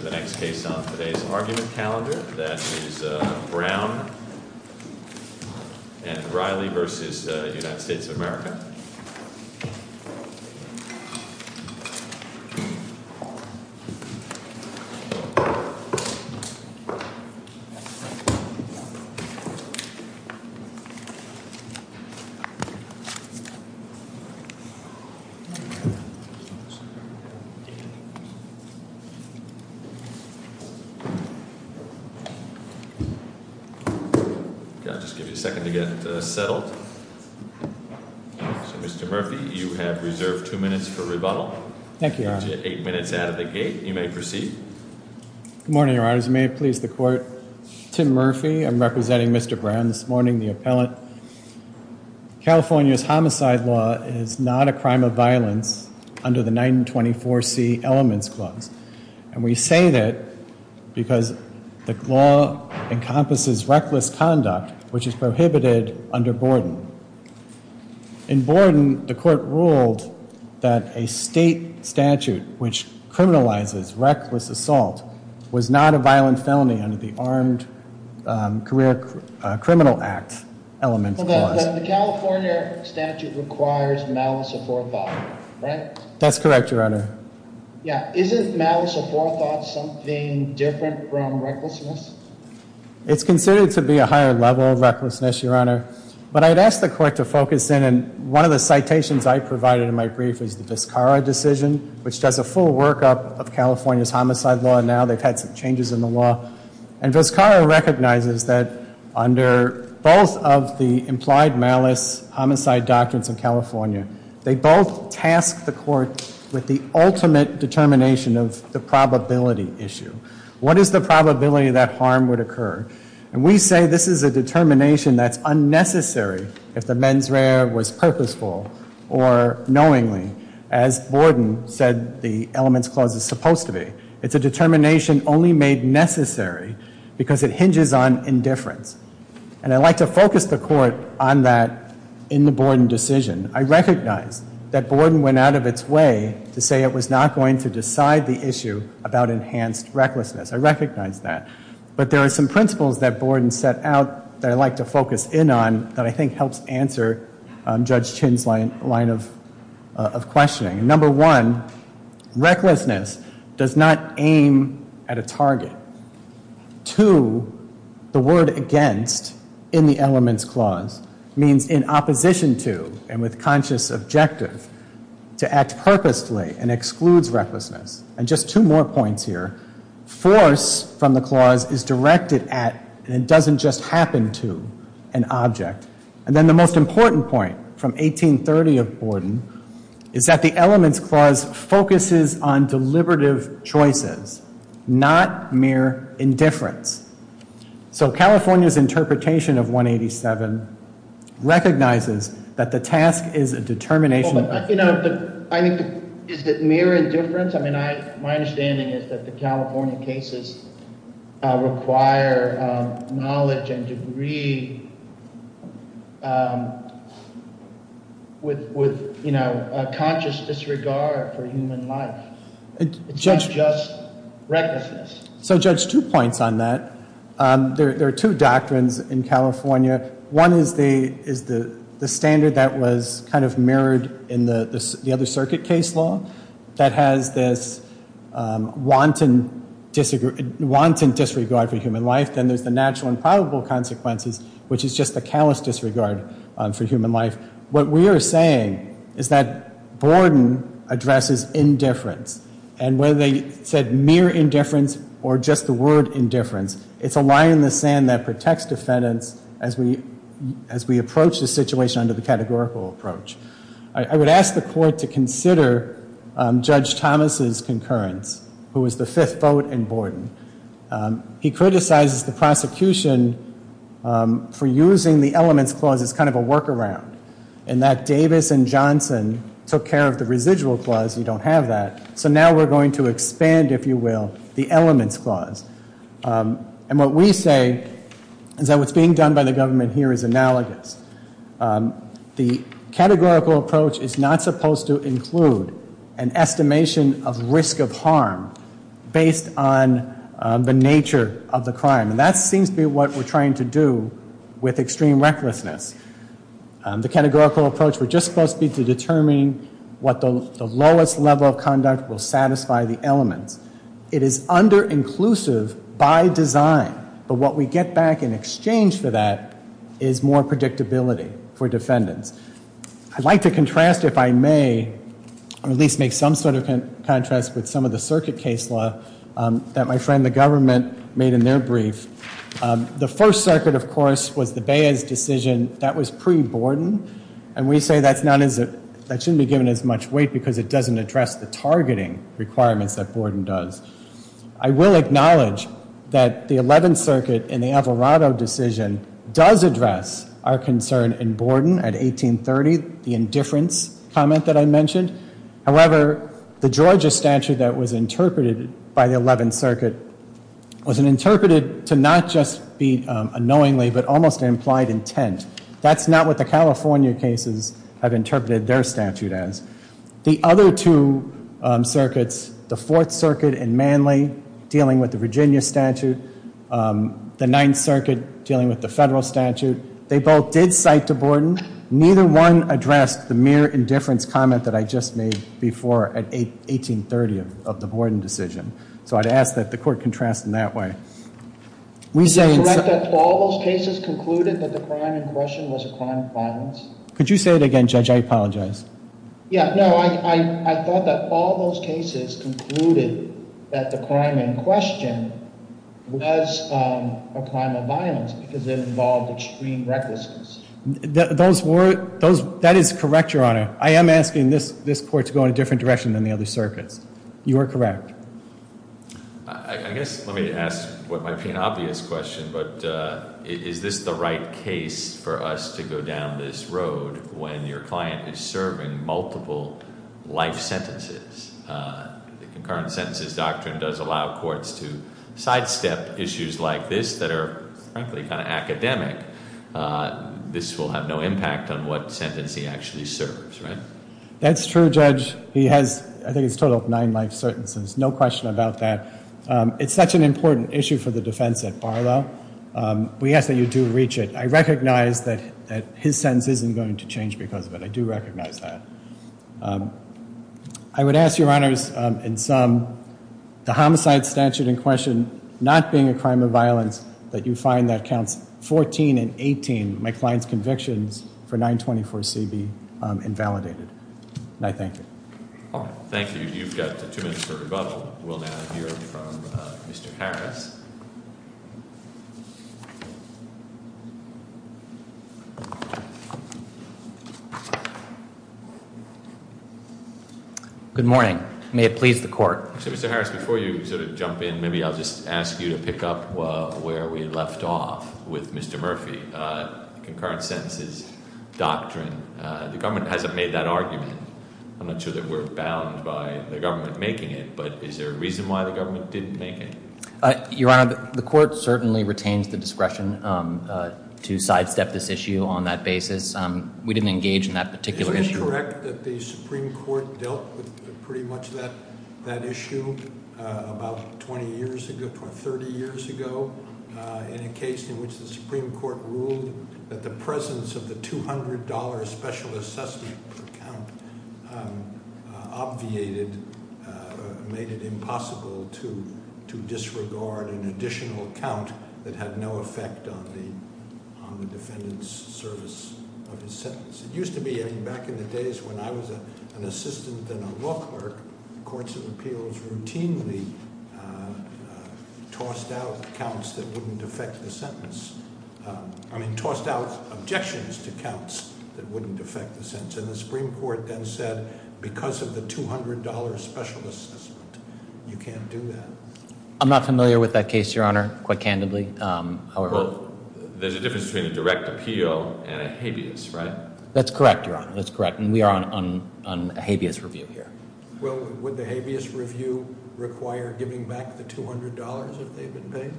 v. United States of America. I'll just give you a second to get settled. So, Mr. Murphy, you have reserved two minutes for rebuttal. Thank you, Your Honor. Eight minutes out of the gate. You may proceed. Good morning, Your Honor. As you may have pleased the court, Tim Murphy, I'm representing Mr. Brown this morning, the appellant. California's homicide law is not a crime of violence under the 924C elements clause. And we say that because the law encompasses reckless conduct, which is prohibited under Borden. In Borden, the court ruled that a state statute which criminalizes reckless assault was not a violent felony under the Armed Career Criminal Act elements clause. Well, the California statute requires malice before a body, right? That's correct, Your Honor. Yeah. Isn't malice before a thought something different from recklessness? It's considered to be a higher level of recklessness, Your Honor. But I'd ask the court to focus in. And one of the citations I provided in my brief is the Vizcarra decision, which does a full workup of California's homicide law now. They've had some changes in the law. And Vizcarra recognizes that under both of the implied malice homicide doctrines in California, they both task the court with the ultimate determination of the probability issue. What is the probability that harm would occur? And we say this is a determination that's unnecessary if the mens rea was purposeful or knowingly, as Borden said the elements clause is supposed to be. It's a determination only made necessary because it hinges on indifference. And I'd like to focus the court on that in the Borden decision. I recognize that Borden went out of its way to say it was not going to decide the issue about enhanced recklessness. I recognize that. But there are some principles that Borden set out that I'd like to focus in on that I think helps answer Judge Chin's line of questioning. Number one, recklessness does not aim at a target. Two, the word against in the elements clause means in opposition to and with conscious objective to act purposely and excludes recklessness. And just two more points here. Force from the clause is directed at and it doesn't just happen to an object. And then the most important point from 1830 of Borden is that the elements clause focuses on deliberative choices, not mere indifference. So California's interpretation of 187 recognizes that the task is a determination. You know, is it mere indifference? I mean, my understanding is that the California cases require knowledge and degree with conscious disregard for human life. It's not just recklessness. So Judge, two points on that. There are two doctrines in California. One is the standard that was kind of mirrored in the other circuit case law that has this wanton disregard for human life. Then there's the natural and probable consequences, which is just the callous disregard for human life. What we are saying is that Borden addresses indifference. And whether they said mere indifference or just the word indifference, it's a lie in the sand that protects defendants as we approach the situation under the categorical approach. I would ask the court to consider Judge Thomas' concurrence, who was the fifth vote in Borden. He criticizes the prosecution for using the elements clause as kind of a workaround. And that Davis and Johnson took care of the residual clause. You don't have that. So now we're going to expand, if you will, the elements clause. And what we say is that what's being done by the government here is analogous. The categorical approach is not supposed to include an estimation of risk of harm based on the nature of the crime. And that seems to be what we're trying to do with extreme recklessness. The categorical approach would just supposed to be to determine what the lowest level of conduct will satisfy the elements. It is under-inclusive by design. But what we get back in exchange for that is more predictability for defendants. I'd like to contrast, if I may, or at least make some sort of contrast with some of the circuit case law that my friend, the government, made in their brief. The first circuit, of course, was the Baez decision. That was pre-Borden. And we say that shouldn't be given as much weight because it doesn't address the targeting requirements that Borden does. I will acknowledge that the Eleventh Circuit in the Alvarado decision does address our concern in Borden at 1830, the indifference comment that I mentioned. However, the Georgia statute that was interpreted by the Eleventh Circuit was interpreted to not just be unknowingly, but almost an implied intent. That's not what the California cases have interpreted their statute as. The other two circuits, the Fourth Circuit in Manly dealing with the Virginia statute, the Ninth Circuit dealing with the federal statute, they both did cite to Borden. Neither one addressed the mere indifference comment that I just made before at 1830 of the Borden decision. So I'd ask that the court contrast in that way. Is it correct that all those cases concluded that the crime in question was a crime of violence? Could you say it again, Judge? I apologize. Yeah, no, I thought that all those cases concluded that the crime in question was a crime of violence because it involved extreme recklessness. That is correct, Your Honor. I am asking this court to go in a different direction than the other circuits. You are correct. I guess let me ask what might be an obvious question, but is this the right case for us to go down this road when your client is serving multiple life sentences? The concurrent sentences doctrine does allow courts to sidestep issues like this that are frankly kind of academic. This will have no impact on what sentence he actually serves, right? That's true, Judge. He has, I think it's a total of nine life sentences. No question about that. It's such an important issue for the defense at Barlow. We ask that you do reach it. I recognize that his sentence isn't going to change because of it. I do recognize that. I would ask, Your Honors, in sum, the homicide statute in question not being a crime of violence, that you find that counts 14 and 18, my client's convictions, for 924C be invalidated. And I thank you. Thank you. You've got two minutes for rebuttal. We'll now hear from Mr. Harris. Good morning. May it please the court. Mr. Harris, before you sort of jump in, maybe I'll just ask you to pick up where we left off with Mr. Murphy. Concurrent sentences doctrine, the government hasn't made that argument. I'm not sure that we're bound by the government making it, but is there a reason why the government didn't make it? Your Honor, the court certainly retains the discretion to sidestep this issue on that basis. We didn't engage in that particular issue. Is it correct that the Supreme Court dealt with pretty much that issue about 20 years ago, 30 years ago, in a case in which the Supreme Court ruled that the presence of the $200 special assessment account obviated, made it impossible to disregard an additional account that had no effect on the defendant's service of his sentence? It used to be, back in the days when I was an assistant and a law clerk, courts of appeals routinely tossed out counts that wouldn't affect the sentence. I mean, tossed out objections to counts that wouldn't affect the sentence. And the Supreme Court then said, because of the $200 special assessment, you can't do that. I'm not familiar with that case, Your Honor, quite candidly. There's a difference between a direct appeal and a habeas, right? That's correct, Your Honor. That's correct. And we are on a habeas review here. Well, would the habeas review require giving back the $200 if they've been paid?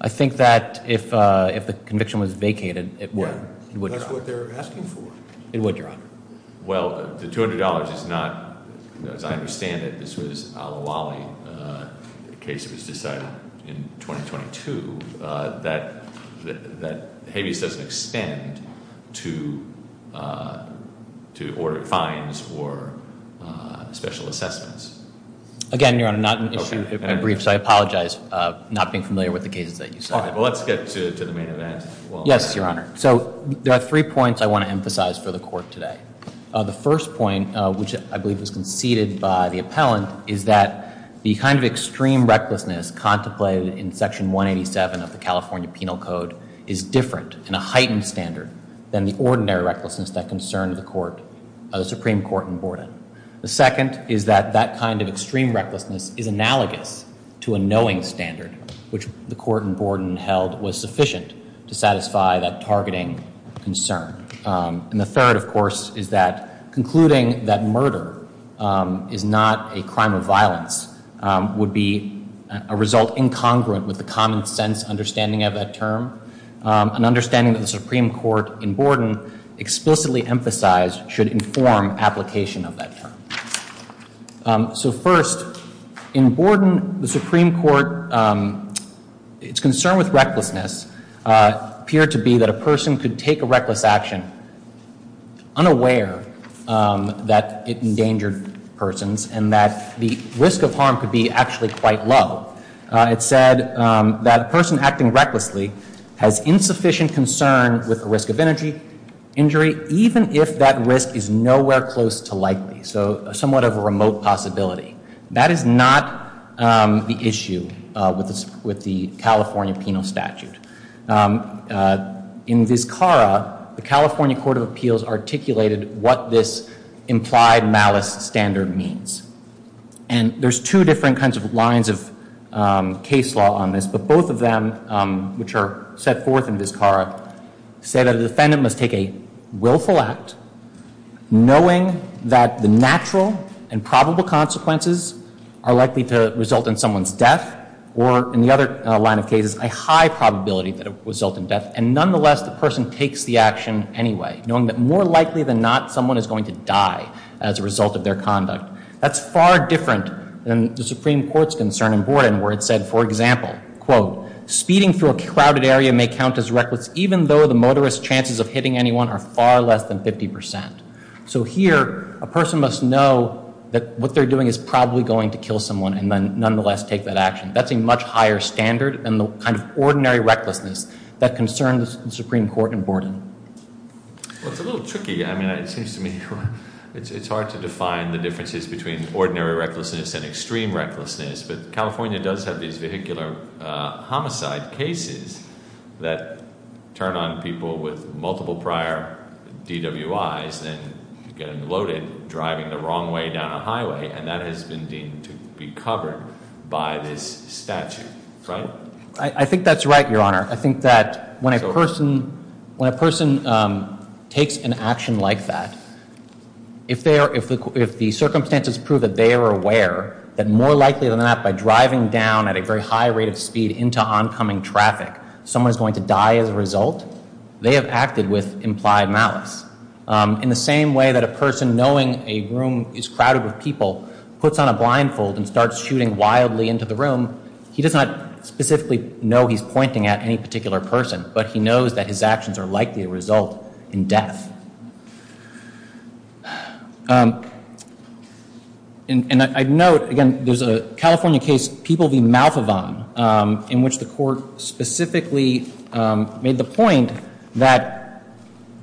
I think that if the conviction was vacated, it would. It would, Your Honor. Well, the $200 is not, as I understand it, this was a la Wally case that was decided in 2022. That habeas doesn't extend to fines or special assessments. Again, Your Honor, not an issue in brief, so I apologize, not being familiar with the cases that you cited. All right, well, let's get to the main event. Yes, Your Honor. So there are three points I want to emphasize for the Court today. The first point, which I believe was conceded by the appellant, is that the kind of extreme recklessness contemplated in Section 187 of the California Penal Code is different in a heightened standard than the ordinary recklessness that concerned the Supreme Court in Borden. The second is that that kind of extreme recklessness is analogous to a knowing standard, which the Court in Borden held was sufficient to satisfy that targeting concern. And the third, of course, is that concluding that murder is not a crime of violence would be a result incongruent with the common sense understanding of that term, an understanding that the Supreme Court in Borden explicitly emphasized should inform application of that term. So first, in Borden, the Supreme Court's concern with recklessness appeared to be that a person could take a reckless action unaware that it endangered persons and that the risk of harm could be actually quite low. It said that a person acting recklessly has insufficient concern with the risk of injury, even if that risk is nowhere close to likely, so somewhat of a remote possibility. That is not the issue with the California Penal Statute. In Vizcarra, the California Court of Appeals articulated what this implied malice standard means. And there's two different kinds of lines of case law on this, but both of them, which are set forth in Vizcarra, say that a defendant must take a willful act knowing that the natural and probable consequences are likely to result in someone's death or, in the other line of cases, a high probability that it would result in death, and nonetheless, the person takes the action anyway, knowing that more likely than not, someone is going to die as a result of their conduct. That's far different than the Supreme Court's concern in Borden where it said, for example, in Vizcarra, quote, speeding through a crowded area may count as reckless, even though the motorist's chances of hitting anyone are far less than 50%. So here, a person must know that what they're doing is probably going to kill someone and then nonetheless take that action. That's a much higher standard than the kind of ordinary recklessness that concerns the Supreme Court in Borden. Well, it's a little tricky. I mean, it seems to me it's hard to define the differences between ordinary recklessness and extreme recklessness, but California does have these vehicular homicide cases that turn on people with multiple prior DWIs and get them loaded driving the wrong way down a highway, and that has been deemed to be covered by this statute, right? I think that's right, Your Honor. I think that when a person takes an action like that, if the circumstances prove that they are aware that more likely than not, by driving down at a very high rate of speed into oncoming traffic, someone is going to die as a result, they have acted with implied malice. In the same way that a person knowing a room is crowded with people puts on a blindfold and starts shooting wildly into the room, he does not specifically know he's pointing at any particular person, but he knows that his actions are likely to result in death. And I note, again, there's a California case, People v. Malfovan, in which the court specifically made the point that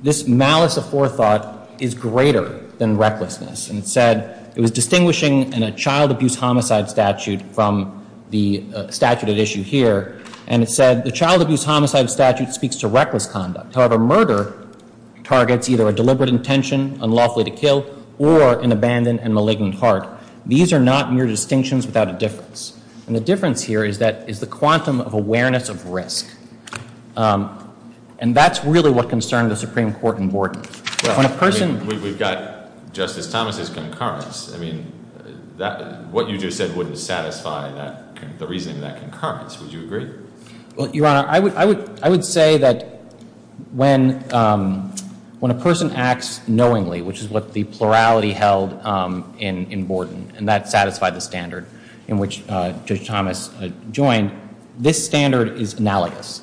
this malice of forethought is greater than recklessness. And it said it was distinguishing in a child abuse homicide statute from the statute at issue here, and it said the child abuse homicide statute speaks to reckless conduct. However, murder targets either a deliberate intention, unlawfully to kill, or an abandoned and malignant heart. These are not mere distinctions without a difference. And the difference here is the quantum of awareness of risk. And that's really what concerned the Supreme Court in Borden. We've got Justice Thomas' concurrence. I mean, what you just said wouldn't satisfy the reasoning of that concurrence. Would you agree? Well, Your Honor, I would say that when a person acts knowingly, which is what the plurality held in Borden, and that satisfied the standard in which Judge Thomas joined, this standard is analogous.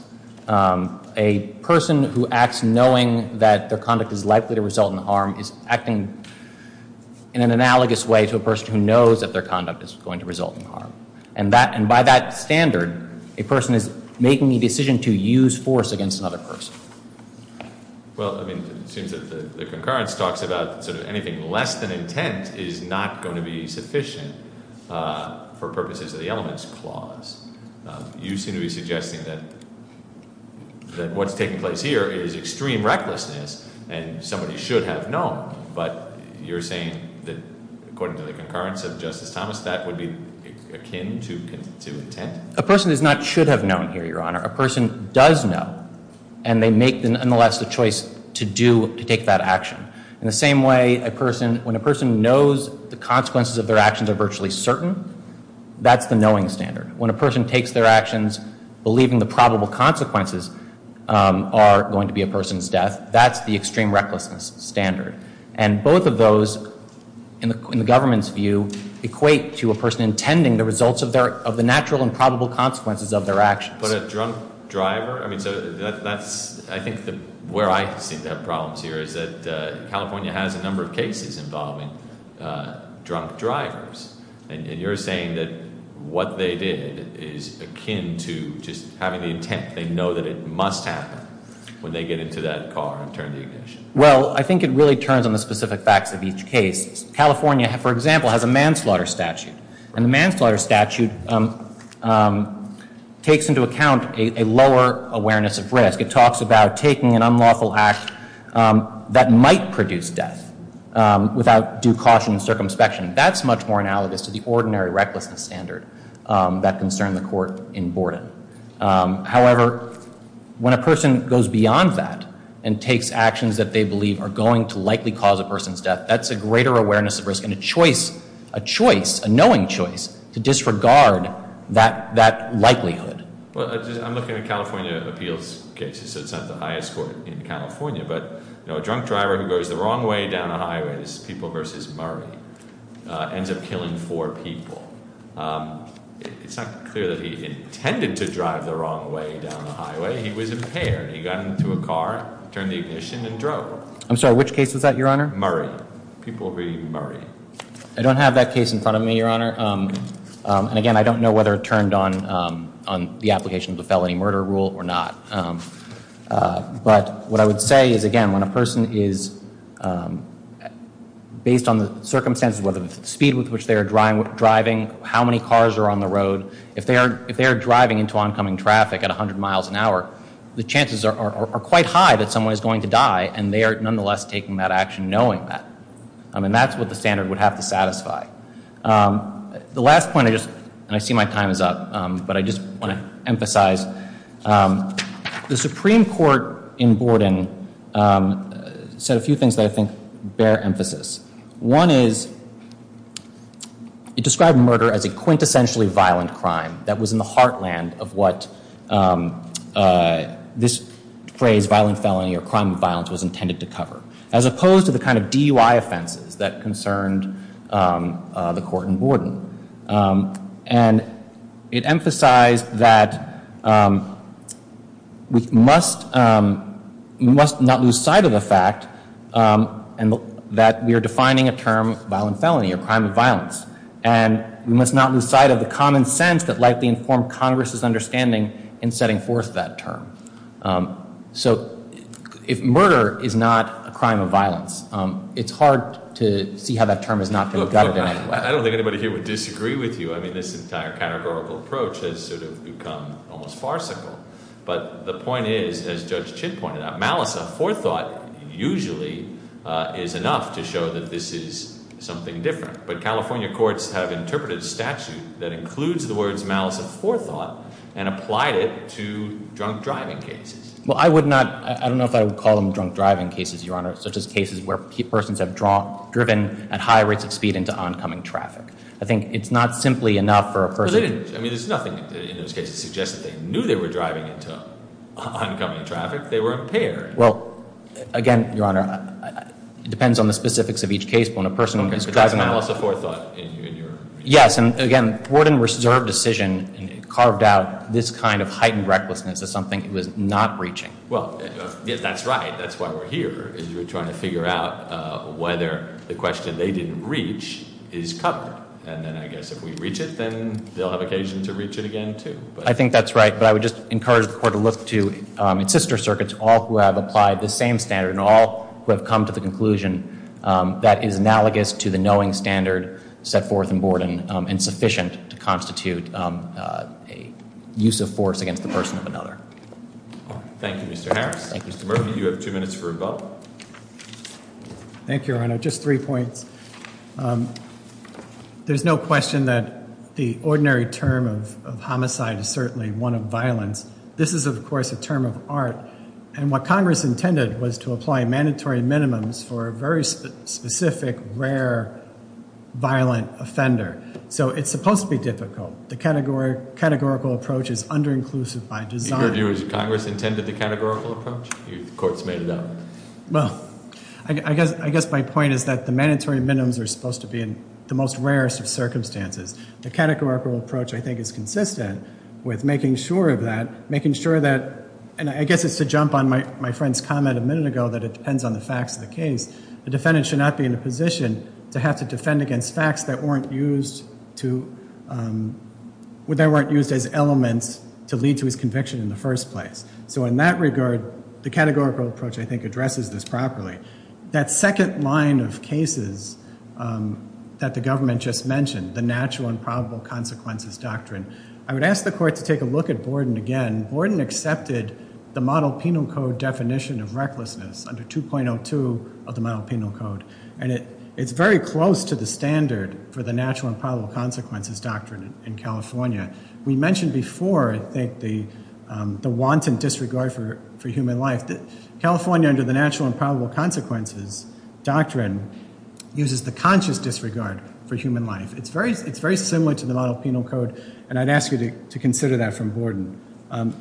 A person who acts knowing that their conduct is likely to result in harm is acting in an analogous way to a person who knows that their conduct is going to result in harm. And by that standard, a person is making the decision to use force against another person. Well, I mean, it seems that the concurrence talks about sort of anything less than intent is not going to be sufficient for purposes of the elements clause. You seem to be suggesting that what's taking place here is extreme recklessness, and somebody should have known. But you're saying that, according to the concurrence of Justice Thomas, that would be akin to intent? A person does not should have known here, Your Honor. A person does know, and they make, nonetheless, the choice to take that action. In the same way, when a person knows the consequences of their actions are virtually certain, that's the knowing standard. When a person takes their actions believing the probable consequences are going to be a person's death, that's the extreme recklessness standard. And both of those, in the government's view, equate to a person intending the results of the natural and probable consequences of their actions. But a drunk driver? I mean, so that's I think where I seem to have problems here is that California has a number of cases involving drunk drivers. And you're saying that what they did is akin to just having the intent. They know that it must happen when they get into that car and turn the ignition. Well, I think it really turns on the specific facts of each case. California, for example, has a manslaughter statute. And the manslaughter statute takes into account a lower awareness of risk. It talks about taking an unlawful act that might produce death without due caution and circumspection. That's much more analogous to the ordinary recklessness standard that concerned the court in Borden. However, when a person goes beyond that and takes actions that they believe are going to likely cause a person's death, that's a greater awareness of risk and a choice, a knowing choice, to disregard that likelihood. Well, I'm looking at California appeals cases, so it's not the highest court in California. But a drunk driver who goes the wrong way down a highway, this is People v. Murray, ends up killing four people. It's not clear that he intended to drive the wrong way down the highway. He was impaired. He got into a car, turned the ignition, and drove. I'm sorry, which case was that, Your Honor? Murray. People v. Murray. I don't have that case in front of me, Your Honor. And, again, I don't know whether it turned on the application of the felony murder rule or not. But what I would say is, again, when a person is, based on the circumstances, whether it's the speed with which they are driving, how many cars are on the road, if they are driving into oncoming traffic at 100 miles an hour, the chances are quite high that someone is going to die, and they are nonetheless taking that action knowing that. And that's what the standard would have to satisfy. The last point, and I see my time is up, but I just want to emphasize, the Supreme Court in Borden said a few things that I think bear emphasis. One is it described murder as a quintessentially violent crime that was in the heartland of what this phrase, violent felony or crime of violence, was intended to cover, as opposed to the kind of DUI offenses that concerned the court in Borden. And it emphasized that we must not lose sight of the fact that we are defining a term violent felony or crime of violence, and we must not lose sight of the common sense that likely informed Congress's understanding in setting forth that term. So if murder is not a crime of violence, it's hard to see how that term is not going to go anywhere. I don't think anybody here would disagree with you. I mean, this entire categorical approach has sort of become almost farcical. But the point is, as Judge Chin pointed out, malice of forethought usually is enough to show that this is something different. But California courts have interpreted a statute that includes the words malice of forethought and applied it to drunk driving cases. Well, I would not—I don't know if I would call them drunk driving cases, Your Honor, such as cases where persons have driven at high rates of speed into oncoming traffic. I think it's not simply enough for a person— But they didn't—I mean, there's nothing in those cases that suggests that they knew they were driving into oncoming traffic. They were impaired. Well, again, Your Honor, it depends on the specifics of each case. When a person is driving— Okay, but that's malice of forethought in your— Yes, and again, Ford and Reserve decision carved out this kind of heightened recklessness as something it was not reaching. Well, that's right. That's why we're here is we're trying to figure out whether the question they didn't reach is covered. And then I guess if we reach it, then they'll have occasion to reach it again, too. I think that's right. But I would just encourage the court to look to its sister circuits, all who have applied the same standard and all who have come to the conclusion that is analogous to the knowing standard set forth in Borden and sufficient to constitute a use of force against the person of another. Thank you, Mr. Harris. Thank you, Mr. Murphy. You have two minutes for a vote. Thank you, Your Honor. Just three points. This is, of course, a term of art. And what Congress intended was to apply mandatory minimums for a very specific, rare, violent offender. So it's supposed to be difficult. The categorical approach is under-inclusive by design. In your view, is Congress intended the categorical approach? The court's made it up. Well, I guess my point is that the mandatory minimums are supposed to be in the most rarest of circumstances. The categorical approach, I think, is consistent with making sure of that, making sure that, and I guess it's to jump on my friend's comment a minute ago that it depends on the facts of the case. The defendant should not be in a position to have to defend against facts that weren't used as elements to lead to his conviction in the first place. So in that regard, the categorical approach, I think, addresses this properly. That second line of cases that the government just mentioned, the natural and probable consequences doctrine, I would ask the court to take a look at Borden again. Borden accepted the model penal code definition of recklessness under 2.02 of the model penal code, and it's very close to the standard for the natural and probable consequences doctrine in California. We mentioned before, I think, the wanton disregard for human life. California, under the natural and probable consequences doctrine, uses the conscious disregard for human life. It's very similar to the model penal code, and I'd ask you to consider that from Borden.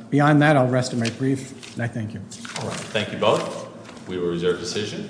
Beyond that, I'll rest in my brief, and I thank you. Thank you both. We will reserve decision.